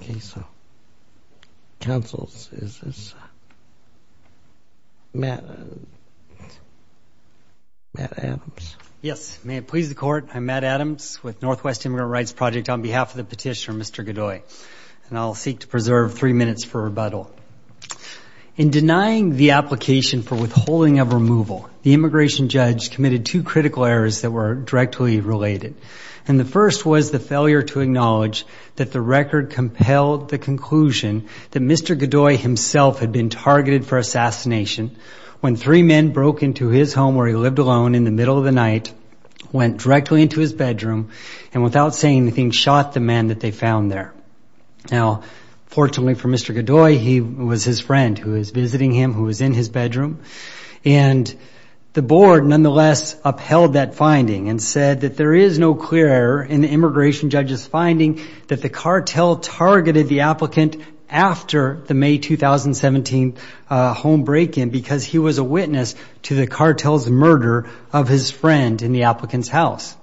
Okay, so, counsels, is this Matt Adams? Yes. May it please the court, I'm Matt Adams with Northwest Immigrant Rights Project on behalf of the petitioner, Mr. Gaday. And I'll seek to preserve three minutes for rebuttal. In denying the application for withholding of removal, the immigration judge committed two critical errors that were directly related. And the first was the failure to acknowledge that the record compelled the conclusion that Mr. Gaday himself had been targeted for assassination when three men broke into his home where he lived alone in the middle of the night, went directly into his bedroom, and without saying anything, shot the man that they found there. Now, fortunately for Mr. Gaday, he was his friend who was visiting him, who was in his bedroom. And the board, nonetheless, upheld that finding and said that there is no clear error in the immigration judge's finding that the cartel targeted the applicant after the May 2017 home break-in because he was a witness to the cartel's murder of his friend in the applicant's house.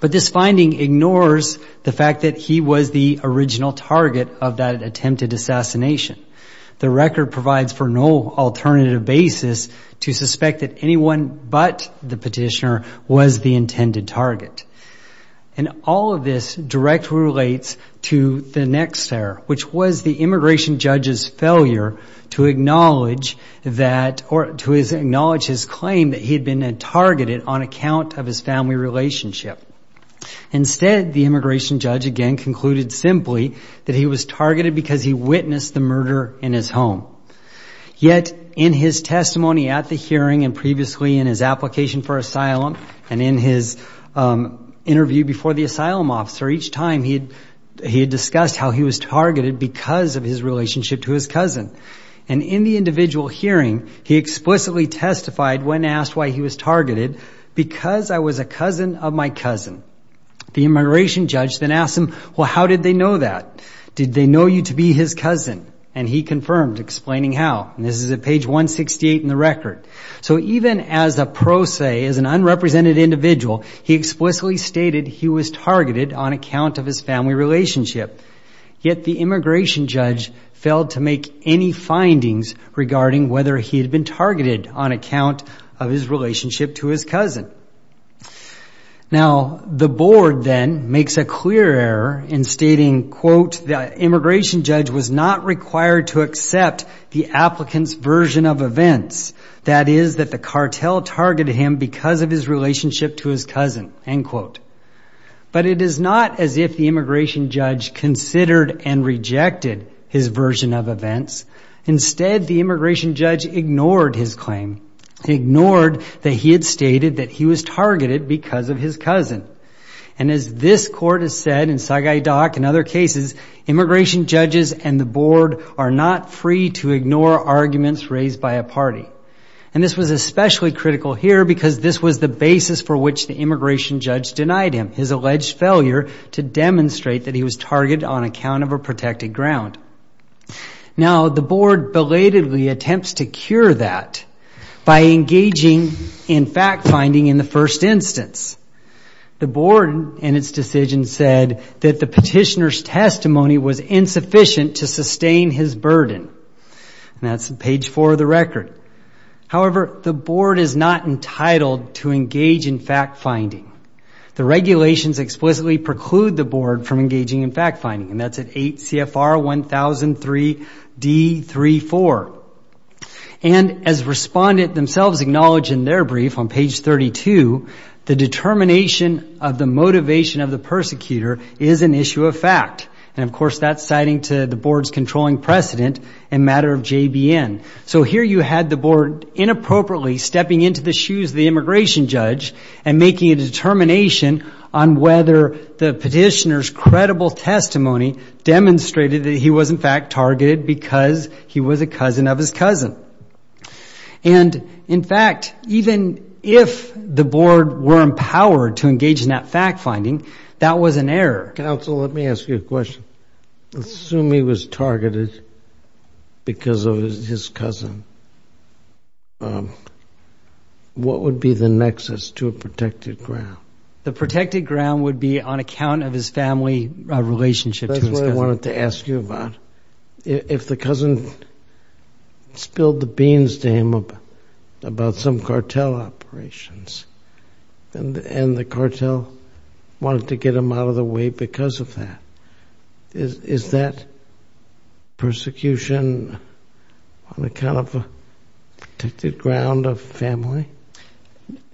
But this finding ignores the fact that he was the original target of that attempted assassination. The record provides for no alternative basis to suspect that anyone but the petitioner was the intended target. And all of this directly relates to the next error, which was the immigration judge's failure to acknowledge that or to acknowledge his claim that he had been targeted on account of his family relationship. Instead, the immigration judge, again, concluded simply that he was targeted because he witnessed the murder in his home. Yet, in his testimony at the hearing and previously in his application for asylum and in his interview before the asylum officer, each time he had discussed how he was targeted because of his relationship to his cousin. And in the individual hearing, he explicitly testified when asked why he was targeted, because I was a cousin of my cousin. The immigration judge then asked him, well, how did they know that? Did they know you to be his cousin? And he confirmed, explaining how. And this is at page 168 in the record. So even as a pro se, as an unrepresented individual, he explicitly stated he was targeted on account of his family relationship. Yet the immigration judge failed to make any findings regarding whether he had been targeted on account of his relationship to his cousin. Now, the board then makes a clear error in stating, quote, the immigration judge was not required to accept the applicant's version of events, that is, that the cartel targeted him because of his relationship to his cousin, end quote. But it is not as if the immigration judge considered and rejected his version of events. Instead, the immigration judge ignored his claim. He ignored that he had stated that he was targeted because of his cousin. And as this court has said in Sagai Dock and other cases, immigration judges and the board are not free to ignore arguments raised by a party. And this was especially critical here because this was the basis for which the immigration judge denied him, his alleged failure to demonstrate that he was targeted on account of a protected ground. Now, the board belatedly attempts to cure that by engaging in fact-finding in the first instance. The board, in its decision, said that the petitioner's testimony was insufficient to sustain his burden. And that's page four of the record. However, the board is not entitled to engage in fact-finding. The regulations explicitly preclude the board from engaging in fact-finding, and that's at 8 CFR 1003 D34. And as respondent themselves acknowledge in their brief on page 32, the determination of the motivation of the persecutor is an issue of fact. And, of course, that's citing to the board's controlling precedent in matter of JBN. So here you had the board inappropriately stepping into the shoes of the immigration judge and making a determination on whether the petitioner's credible testimony demonstrated that he was, in fact, targeted because he was a cousin of his cousin. And, in fact, even if the board were empowered to engage in that fact-finding, that was an error. Counsel, let me ask you a question. Assume he was targeted because of his cousin. What would be the nexus to a protected ground? The protected ground would be on account of his family relationship to his cousin. That's what I wanted to ask you about. If the cousin spilled the beans to him about some cartel operations and the cartel wanted to get him out of the way because of that, is that persecution on account of a protected ground of family?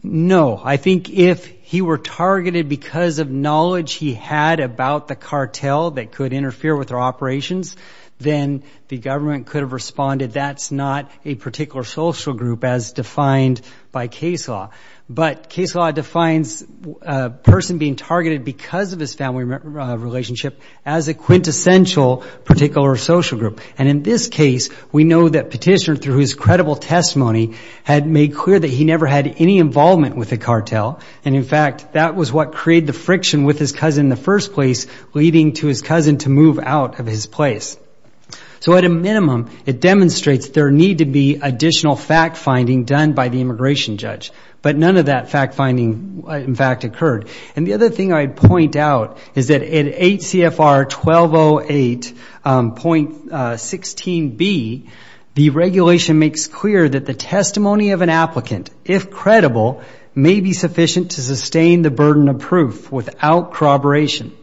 No. I think if he were targeted because of knowledge he had about the cartel that could interfere with their operations, then the government could have responded, that's not a particular social group as defined by case law. But case law defines a person being targeted because of his family relationship as a quintessential particular social group. And in this case, we know that petitioner, through his credible testimony, had made clear that he never had any involvement with the cartel. And, in fact, that was what created the friction with his cousin in the first place, leading to his cousin to move out of his place. So at a minimum, it demonstrates there need to be additional fact-finding done by the immigration judge. But none of that fact-finding, in fact, occurred. And the other thing I'd point out is that in 8 CFR 1208.16b, the regulation makes clear that the testimony of an applicant, if credible, may be sufficient to sustain the burden of proof without corroboration.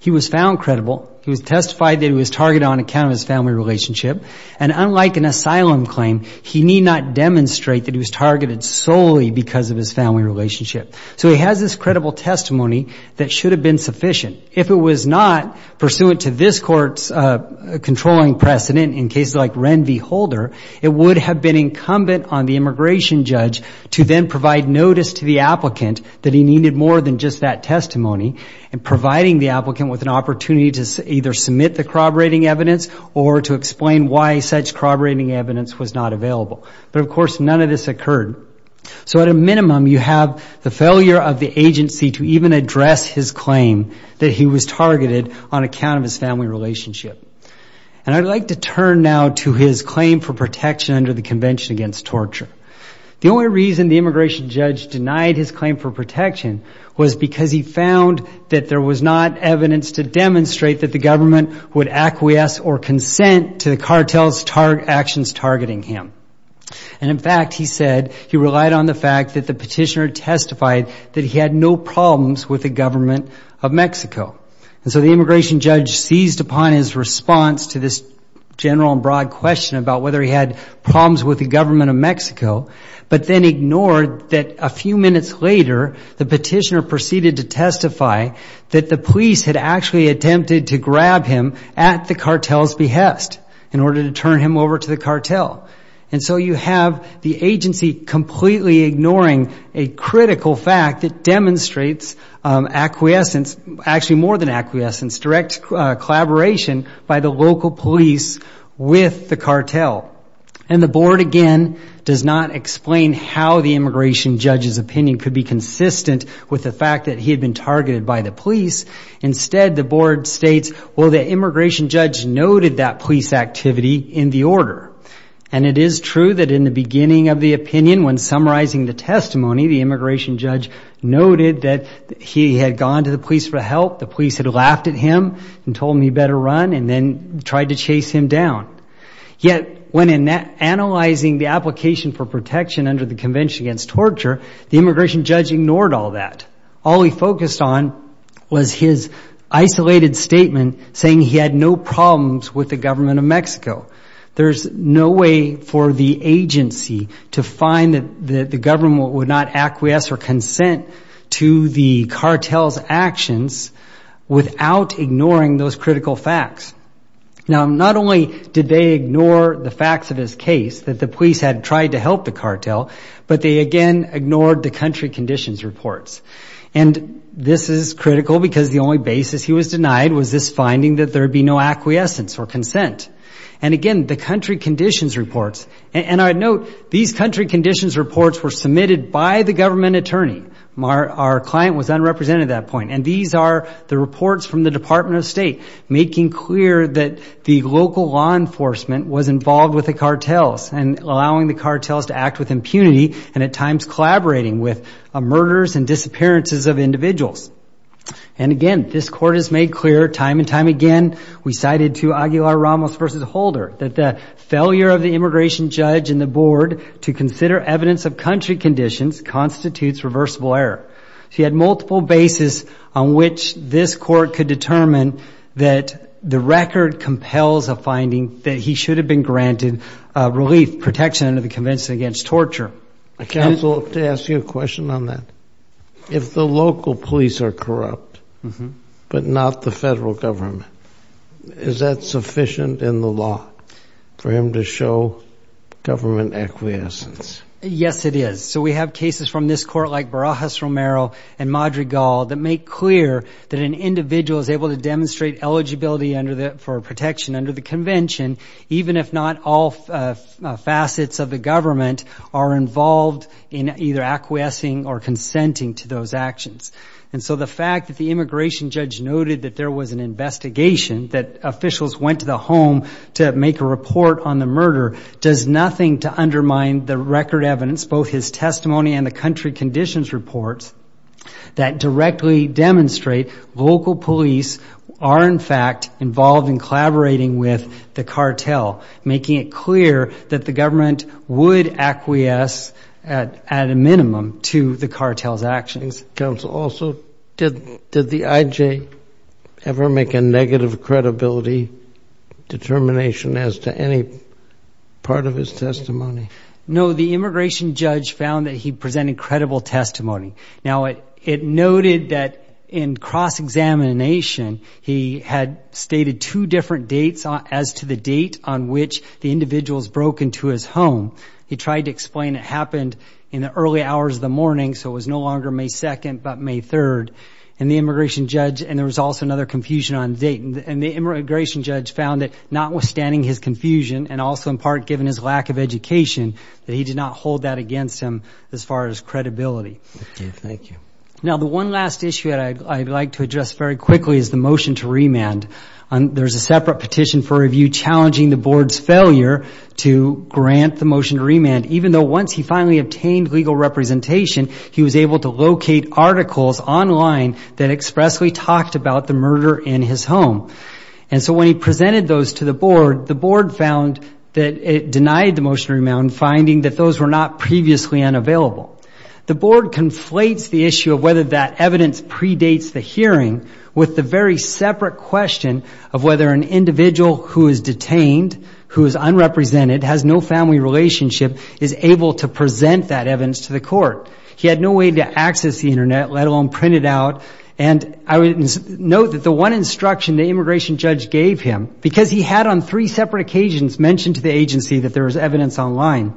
He was found credible. He was testified that he was targeted on account of his family relationship. And unlike an asylum claim, he need not demonstrate that he was targeted solely because of his family relationship. So he has this credible testimony that should have been sufficient. If it was not, pursuant to this court's controlling precedent in cases like Ren v. Holder, it would have been incumbent on the immigration judge to then provide notice to the applicant that he needed more than just that testimony, and providing the applicant with an opportunity to either submit the corroborating evidence or to explain why such corroborating evidence was not available. But, of course, none of this occurred. So at a minimum, you have the failure of the agency to even address his claim that he was targeted on account of his family relationship. And I'd like to turn now to his claim for protection under the Convention Against Torture. The only reason the immigration judge denied his claim for protection was because he found that there was not evidence to demonstrate that the government would acquiesce or consent to the cartel's actions targeting him. And, in fact, he said he relied on the fact that the petitioner testified that he had no problems with the government of Mexico. And so the immigration judge seized upon his response to this general and broad question about whether he had problems with the government of Mexico, but then ignored that a few minutes later the petitioner proceeded to testify that the police had actually attempted to grab him at the cartel's behest in order to turn him over to the cartel. And so you have the agency completely ignoring a critical fact that demonstrates acquiescence, actually more than acquiescence, direct collaboration by the local police with the cartel. And the board, again, does not explain how the immigration judge's opinion could be consistent with the fact that he had been targeted by the police. Instead, the board states, well, the immigration judge noted that police activity in the order. And it is true that in the beginning of the opinion, when summarizing the testimony, the immigration judge noted that he had gone to the police for help, the police had laughed at him and told him he better run, and then tried to chase him down. Yet, when analyzing the application for protection under the Convention Against Torture, the immigration judge ignored all that. All he focused on was his isolated statement saying he had no problems with the government of Mexico. There's no way for the agency to find that the government would not acquiesce or consent to the cartel's actions without ignoring those critical facts. Now, not only did they ignore the facts of his case, that the police had tried to help the cartel, but they, again, ignored the country conditions reports. And this is critical because the only basis he was denied was this finding that there would be no acquiescence or consent. And, again, the country conditions reports, and I note these country conditions reports were submitted by the government attorney. Our client was unrepresented at that point. And these are the reports from the Department of State making clear that the local law enforcement was involved with the cartels, and allowing the cartels to act with impunity, and at times collaborating with murders and disappearances of individuals. And, again, this court has made clear time and time again, we cited to Aguilar-Ramos v. Holder, that the failure of the immigration judge and the board to consider evidence of country conditions constitutes reversible error. He had multiple bases on which this court could determine that the record compels a finding that he should have been granted relief, protection under the convention against torture. Counsel, to ask you a question on that, if the local police are corrupt, but not the federal government, is that sufficient in the law for him to show government acquiescence? Yes, it is. So we have cases from this court like Barajas-Romero and Madrigal that make clear that an individual is able to demonstrate eligibility for protection under the convention, even if not all facets of the government are involved in either acquiescing or consenting to those actions. And so the fact that the immigration judge noted that there was an investigation, that officials went to the home to make a report on the murder, does nothing to undermine the record evidence, both his testimony and the country conditions reports, that directly demonstrate local police are, in fact, involved in collaborating with the cartel, making it clear that the government would acquiesce at a minimum to the cartel's actions. Counsel, also, did the I.J. ever make a negative credibility determination as to any part of his testimony? No, the immigration judge found that he presented credible testimony. Now, it noted that in cross-examination, he had stated two different dates as to the date on which the individuals broke into his home. He tried to explain it happened in the early hours of the morning, so it was no longer May 2nd but May 3rd. And the immigration judge, and there was also another confusion on the date, and the immigration judge found that notwithstanding his confusion, and also in part given his lack of education, that he did not hold that against him as far as credibility. Thank you. Now, the one last issue that I'd like to address very quickly is the motion to remand. There's a separate petition for review challenging the board's failure to grant the motion to remand, even though once he finally obtained legal representation, he was able to locate articles online that expressly talked about the murder in his home. And so when he presented those to the board, the board found that it denied the motion to remand, finding that those were not previously unavailable. The board conflates the issue of whether that evidence predates the hearing with the very separate question of whether an individual who is detained, who is unrepresented, has no family relationship, is able to present that evidence to the court. He had no way to access the Internet, let alone print it out. And I would note that the one instruction the immigration judge gave him, because he had on three separate occasions mentioned to the agency that there was evidence online,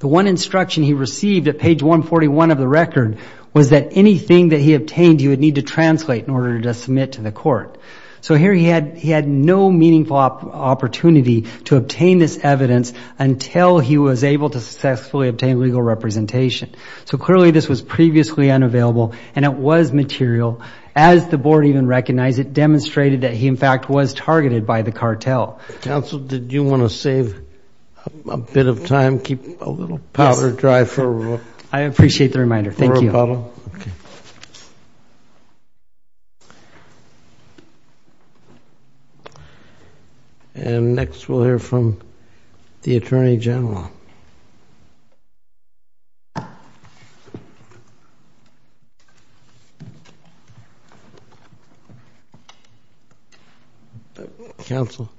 the one instruction he received at page 141 of the record was that anything that he obtained, he would need to translate in order to submit to the court. So here he had no meaningful opportunity to obtain this evidence until he was able to successfully obtain legal representation. So clearly this was previously unavailable and it was material. As the board even recognized, it demonstrated that he, in fact, was targeted by the cartel. Counsel, did you want to save a bit of time, keep a little powder dry for a rebuttal? I appreciate the reminder. Thank you. And next we'll hear from the Attorney General. Thank you. Counsel,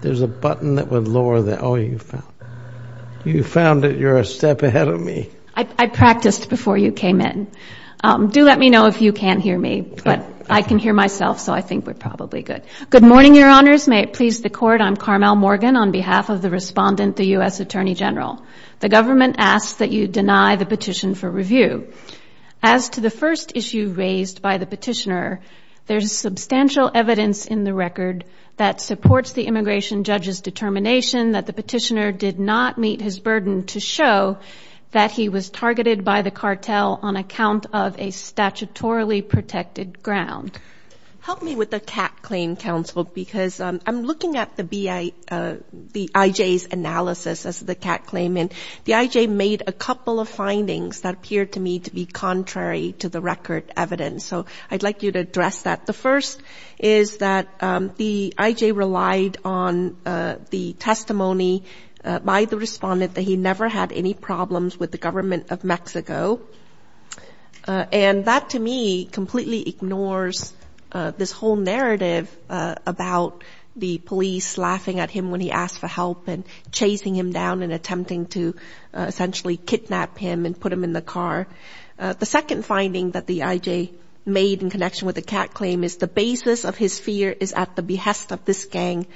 there's a button that would lower that. Oh, you found it. You're a step ahead of me. I practiced before you came in. Do let me know if you can't hear me, but I can hear myself, so I think we're probably good. Good morning, Your Honors. May it please the Court. I'm Carmel Morgan on behalf of the respondent, the U.S. Attorney General. The government asks that you deny the petition for review. As to the first issue raised by the petitioner, there's substantial evidence in the record that supports the immigration judge's determination that the petitioner did not meet his burden to show that he was targeted by the cartel on account of a statutorily protected ground. Help me with the CAT claim, Counsel, because I'm looking at the IJ's analysis as the CAT claim, and the IJ made a couple of findings that appeared to me to be contrary to the record evidence, so I'd like you to address that. The first is that the IJ relied on the testimony by the respondent that he never had any problems with the government of Mexico, and that, to me, completely ignores this whole narrative about the police laughing at him when he asked for help and chasing him down and attempting to essentially kidnap him and put him in the car. The second finding that the IJ made in connection with the CAT claim is the basis of his fear is at the behest of this gang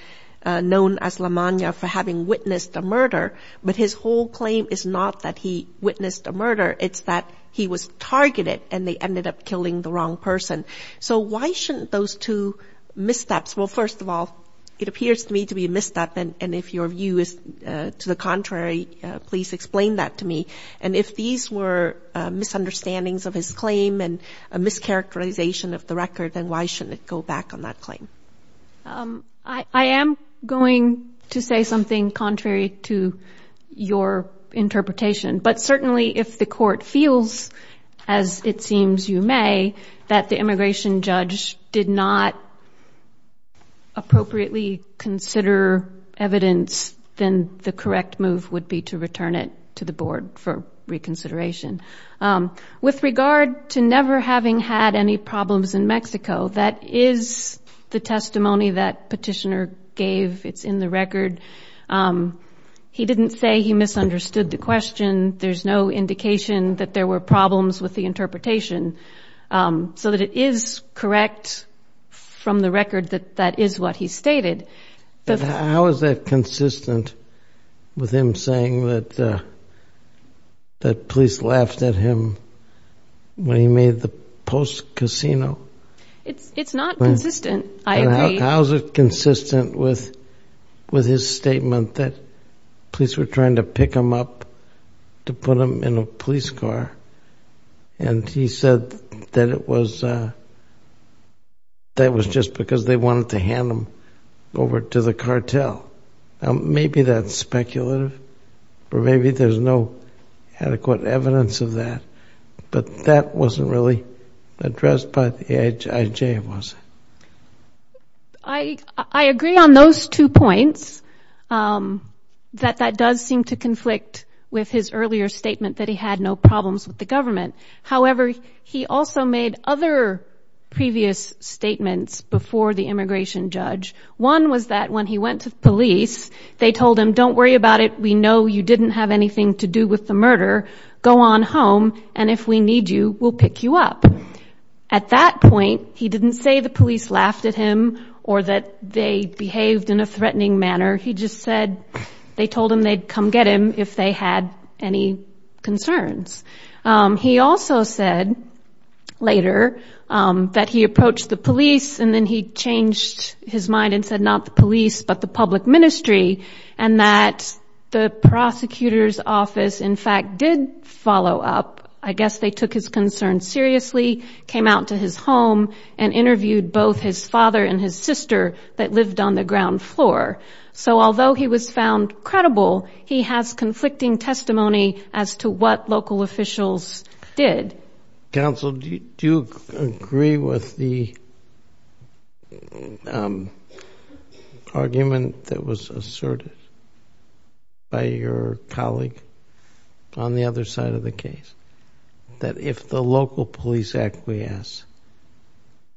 known as La Maña for having witnessed a murder, but his whole claim is not that he witnessed a murder, it's that he was targeted and they ended up killing the wrong person. So why shouldn't those two missteps, well, first of all, it appears to me to be a misstep, and if your view is to the contrary, please explain that to me, and if these were misunderstandings of his claim and a mischaracterization of the record, then why shouldn't it go back on that claim? I am going to say something contrary to your interpretation, but certainly if the court feels, as it seems you may, that the immigration judge did not appropriately consider evidence, then the correct move would be to return it to the board for reconsideration. With regard to never having had any problems in Mexico, that is the testimony that Petitioner gave, it's in the record. He didn't say he misunderstood the question, there's no indication that there were problems with the interpretation, so that it is correct from the record that that is what he stated. How is that consistent with him saying that the police laughed at him when he made the post-casino? It's not consistent, I agree. How is it consistent with his statement that police were trying to pick him up to put him in a police car, and he said that it was just because they wanted to hand him over to the cartel? Maybe that's speculative, or maybe there's no adequate evidence of that, but that wasn't really addressed by the IJ, was it? I agree on those two points, that that does seem to conflict with his earlier statement that he had no problems with the government. However, he also made other previous statements before the immigration judge. One was that when he went to the police, they told him, don't worry about it, we know you didn't have anything to do with the murder, go on home, and if we need you, we'll pick you up. At that point, he didn't say the police laughed at him or that they behaved in a threatening manner, he just said they told him they'd come get him if they had any concerns. He also said later that he approached the police, and then he changed his mind and said not the police, but the public ministry, and that the prosecutor's office, in fact, did follow up. I guess they took his concerns seriously, came out to his home, and interviewed both his father and his sister that lived on the ground floor. So although he was found credible, he has conflicting testimony as to what local officials did. Counsel, do you agree with the argument that was asserted by your colleague on the other side of the case, that if the local police acquiesce,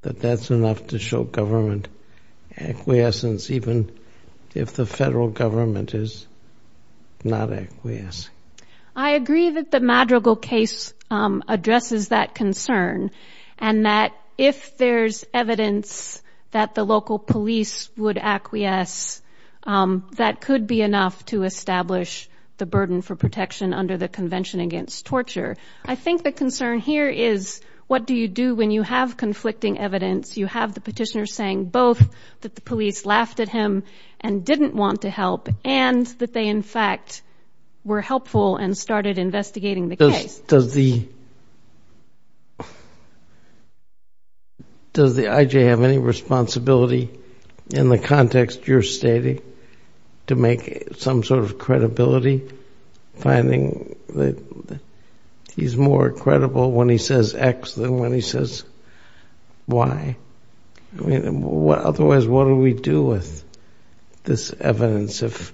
that that's enough to show government acquiescence, even if the federal government is not acquiescing? I agree that the Madrigal case addresses that concern, and that if there's evidence that the local police would acquiesce, that could be enough to establish the burden for protection under the Convention Against Torture. I think the concern here is what do you do when you have conflicting evidence, you have the petitioner saying both that the police laughed at him and didn't want to help, and that they, in fact, were helpful and started investigating the case. Does the I.J. have any responsibility in the context you're stating to make some sort of credibility, finding that he's more credible when he says X than when he says Y? Otherwise, what do we do with this evidence if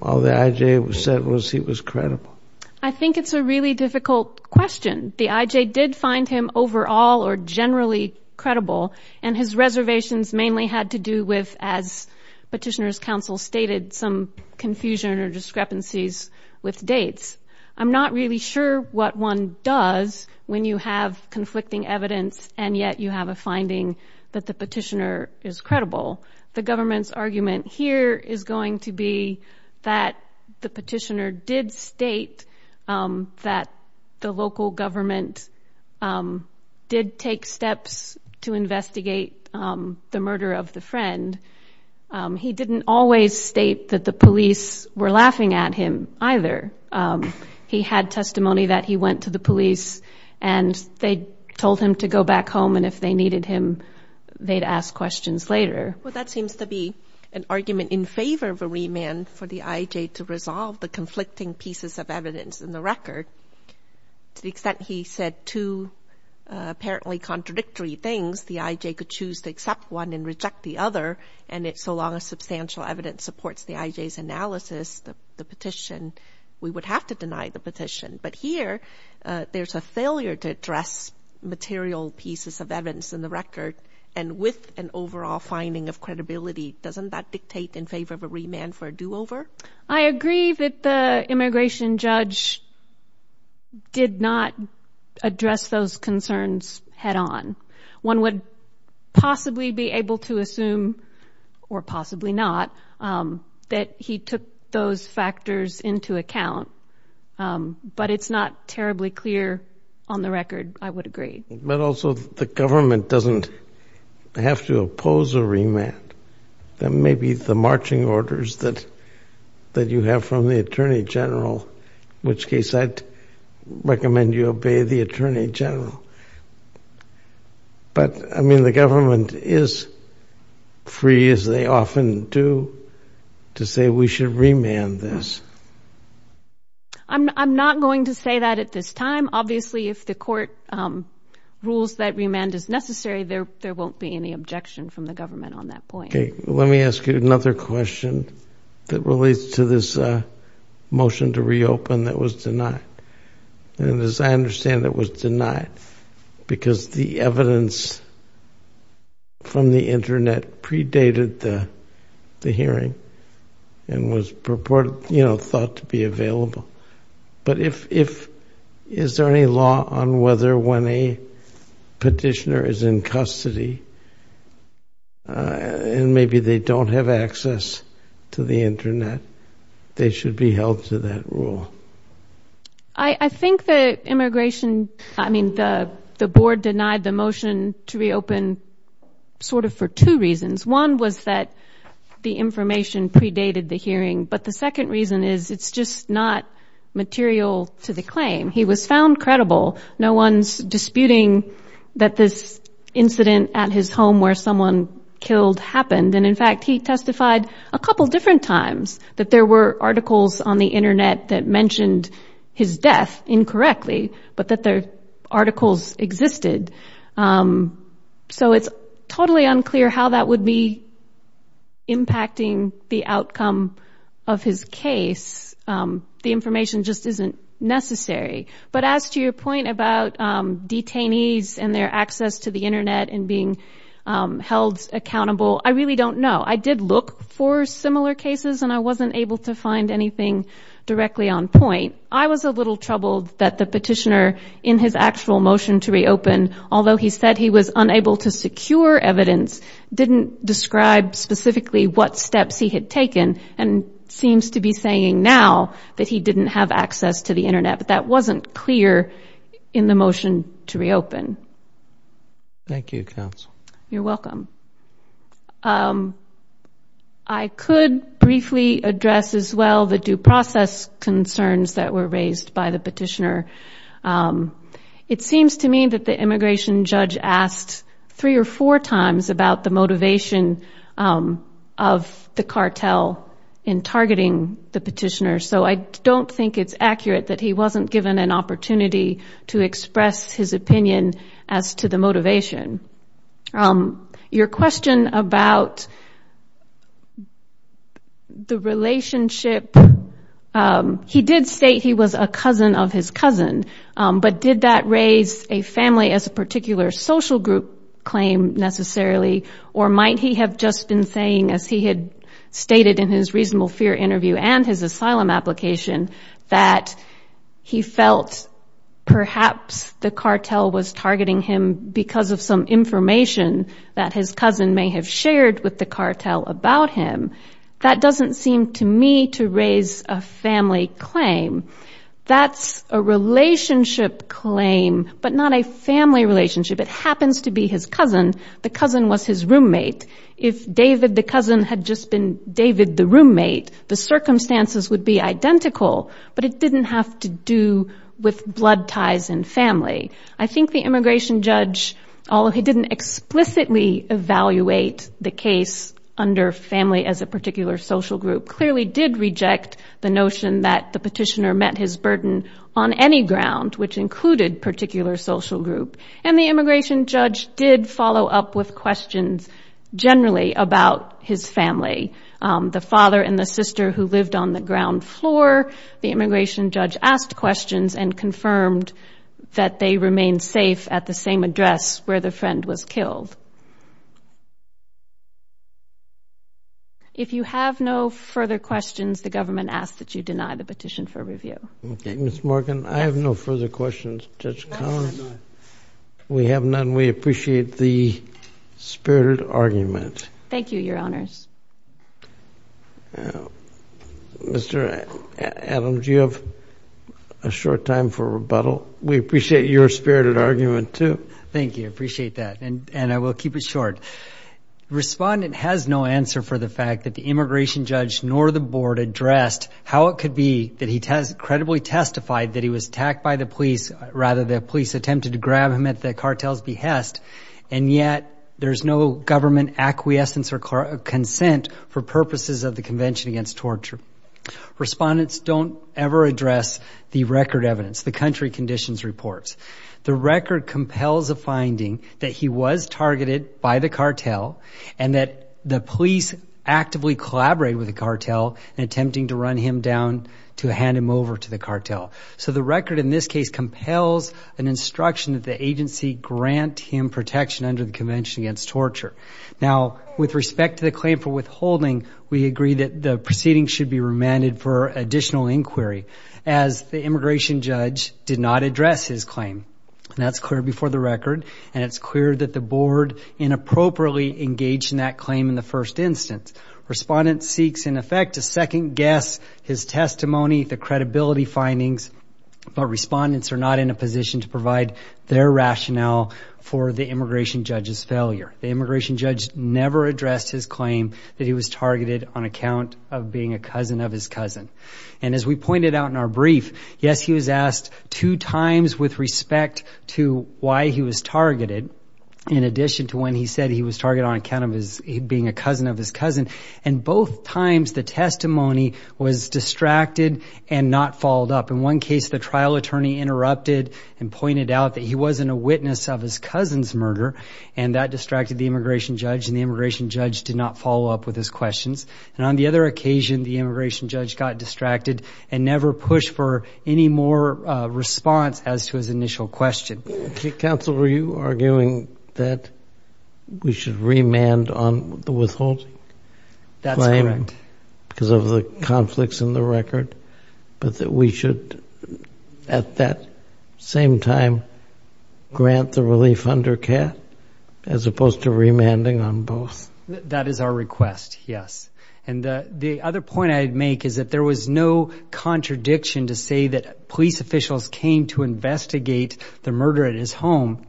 all the I.J. said was he was credible? I think it's a really difficult question. The I.J. did find him overall or generally credible, and his reservations mainly had to do with, as Petitioner's counsel stated, some confusion or discrepancies with dates. I'm not really sure what one does when you have conflicting evidence, and yet you have a finding that the petitioner is credible. The government's argument here is going to be that the petitioner did state that the local government did take steps to investigate the murder of the friend. He didn't always state that the police were laughing at him, either. He had testimony that he went to the police, and they told him to go back home, and if they needed him, they'd ask questions later. Well, that seems to be an argument in favor of a remand for the I.J. to resolve the conflicting pieces of evidence in the record. To the extent he said two apparently contradictory things, the I.J. could choose to accept one and reject the other, and so long as substantial evidence supports the I.J.'s analysis, the petition, we would have to deny the petition. But here, there's a failure to address material pieces of evidence in the record, and with an overall finding of credibility, doesn't that dictate in favor of a remand for a do-over? I agree that the immigration judge did not address those concerns head-on. One would possibly be able to assume, or possibly not, that he took those factors into account, but it's not terribly clear on the record, I would agree. But also, the government doesn't have to oppose a remand. That may be the marching orders that you have from the attorney general, in which case I'd recommend you obey the attorney general. But, I mean, the government is free, as they often do, to say we should remand this. I'm not going to say that at this time. Obviously, if the court rules that remand is necessary, there won't be any objection from the government on that point. Let me ask you another question that relates to this motion to reopen that was denied. As I understand it, it was denied because the evidence from the Internet predated the hearing and was thought to be available. But is there any law on whether when a petitioner is in custody and maybe they don't have access to the Internet, they should be held to that rule? I think the board denied the motion to reopen sort of for two reasons. One was that the information predated the hearing. But the second reason is it's just not material to the claim. He was found credible. No one's disputing that this incident at his home where someone killed happened. And, in fact, he testified a couple different times that there were articles on the Internet that mentioned his death incorrectly, but that the articles existed. So it's totally unclear how that would be impacting the outcome of his case. The information just isn't necessary. But as to your point about detainees and their access to the Internet and being held accountable, I really don't know. I did look for similar cases, and I wasn't able to find anything directly on point. I was a little troubled that the petitioner, in his actual motion to reopen, although he said he was unable to secure evidence, didn't describe specifically what steps he had taken and seems to be saying now that he didn't have access to the Internet. But that wasn't clear in the motion to reopen. Thank you, counsel. You're welcome. I could briefly address as well the due process concerns that were raised by the petitioner. It seems to me that the immigration judge asked three or four times about the motivation of the cartel in targeting the petitioner, so I don't think it's accurate that he wasn't given an opportunity to express his opinion as to the motivation. Your question about the relationship, he did state he was a cousin of his cousin, but did that raise a family as a particular social group claim necessarily, or might he have just been saying, as he had stated in his reasonable fear interview and his asylum application, that he felt perhaps the cartel was targeting him because of some information that his cousin may have shared with the cartel about him? That doesn't seem to me to raise a family claim. That's a relationship claim, but not a family relationship. It happens to be his cousin. The cousin was his roommate. If David the cousin had just been David the roommate, the circumstances would be identical, but it didn't have to do with blood ties and family. I think the immigration judge, although he didn't explicitly evaluate the case under family as a particular social group, clearly did reject the notion that the petitioner met his burden on any ground, which included particular social group, and the immigration judge did follow up with questions generally about his family, the father and the sister who lived on the ground floor. The immigration judge asked questions and confirmed that they remained safe at the same address where the friend was killed. If you have no further questions, the government asks that you deny the petition for review. Okay, Ms. Morgan, I have no further questions. Judge Collins? No, I have none. We have none. We appreciate the spirited argument. Thank you, Your Honors. Mr. Adams, do you have a short time for rebuttal? We appreciate your spirited argument, too. Thank you. I appreciate that, and I will keep it short. Respondent has no answer for the fact that the immigration judge nor the board addressed how it could be that he credibly testified that he was attacked by the police, rather the police attempted to grab him at the cartel's behest, and yet there's no government acquiescence or consent for purposes of the Convention Against Torture. Respondents don't ever address the record evidence, the country conditions reports. The record compels a finding that he was targeted by the cartel and that the police actively collaborated with the cartel in attempting to run him down to hand him over to the cartel. So the record in this case compels an instruction that the agency grant him protection under the Convention Against Torture. Now, with respect to the claim for withholding, we agree that the proceeding should be remanded for additional inquiry as the immigration judge did not address his claim. And that's clear before the record, and it's clear that the board inappropriately engaged in that claim in the first instance. Respondent seeks, in effect, to second-guess his testimony, the credibility findings, but respondents are not in a position to provide their rationale for the immigration judge's failure. The immigration judge never addressed his claim that he was targeted on account of being a cousin of his cousin. And as we pointed out in our brief, yes, he was asked two times with respect to why he was targeted, in addition to when he said he was targeted on account of being a cousin of his cousin. And both times the testimony was distracted and not followed up. In one case, the trial attorney interrupted and pointed out that he wasn't a witness of his cousin's murder, and that distracted the immigration judge, and the immigration judge did not follow up with his questions. And on the other occasion, the immigration judge got distracted and never pushed for any more response as to his initial question. Counsel, were you arguing that we should remand on the withholding? That's correct. Because of the conflicts in the record, but that we should at that same time grant the relief under CAT as opposed to remanding on both? That is our request, yes. And the other point I'd make is that there was no contradiction to say that police officials came to investigate the murder at his home,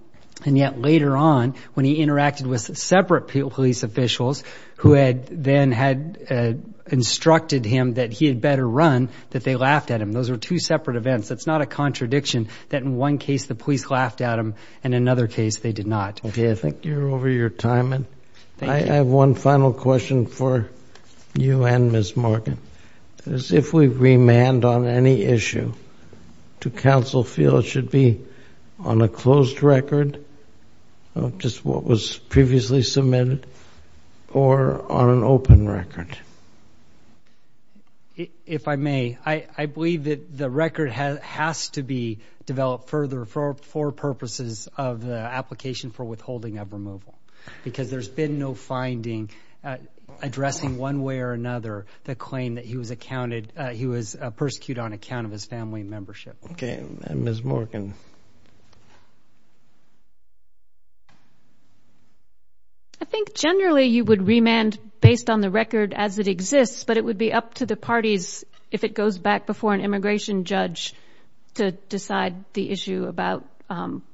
and yet later on, when he interacted with separate police officials who then had instructed him that he had better run, that they laughed at him. Those were two separate events. That's not a contradiction that in one case the police laughed at him, and in another case they did not. Okay, I think you're over your time. Thank you. I have one final question for you and Ms. Morgan. If we remand on any issue, do counsel feel it should be on a closed record, just what was previously submitted, or on an open record? If I may, I believe that the record has to be developed for purposes of the application for withholding of removal because there's been no finding addressing one way or another the claim that he was persecuted on account of his family membership. Okay, and Ms. Morgan? I think generally you would remand based on the record as it exists, but it would be up to the parties if it goes back before an immigration judge to decide the issue about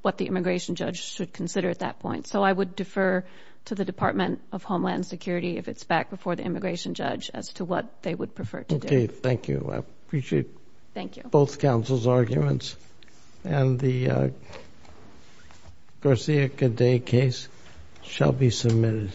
what the immigration judge should consider at that point. So I would defer to the Department of Homeland Security if it's back before the immigration judge as to what they would prefer to do. Okay, thank you. I appreciate both counsel's arguments. And the Garcia-Cadet case shall be submitted.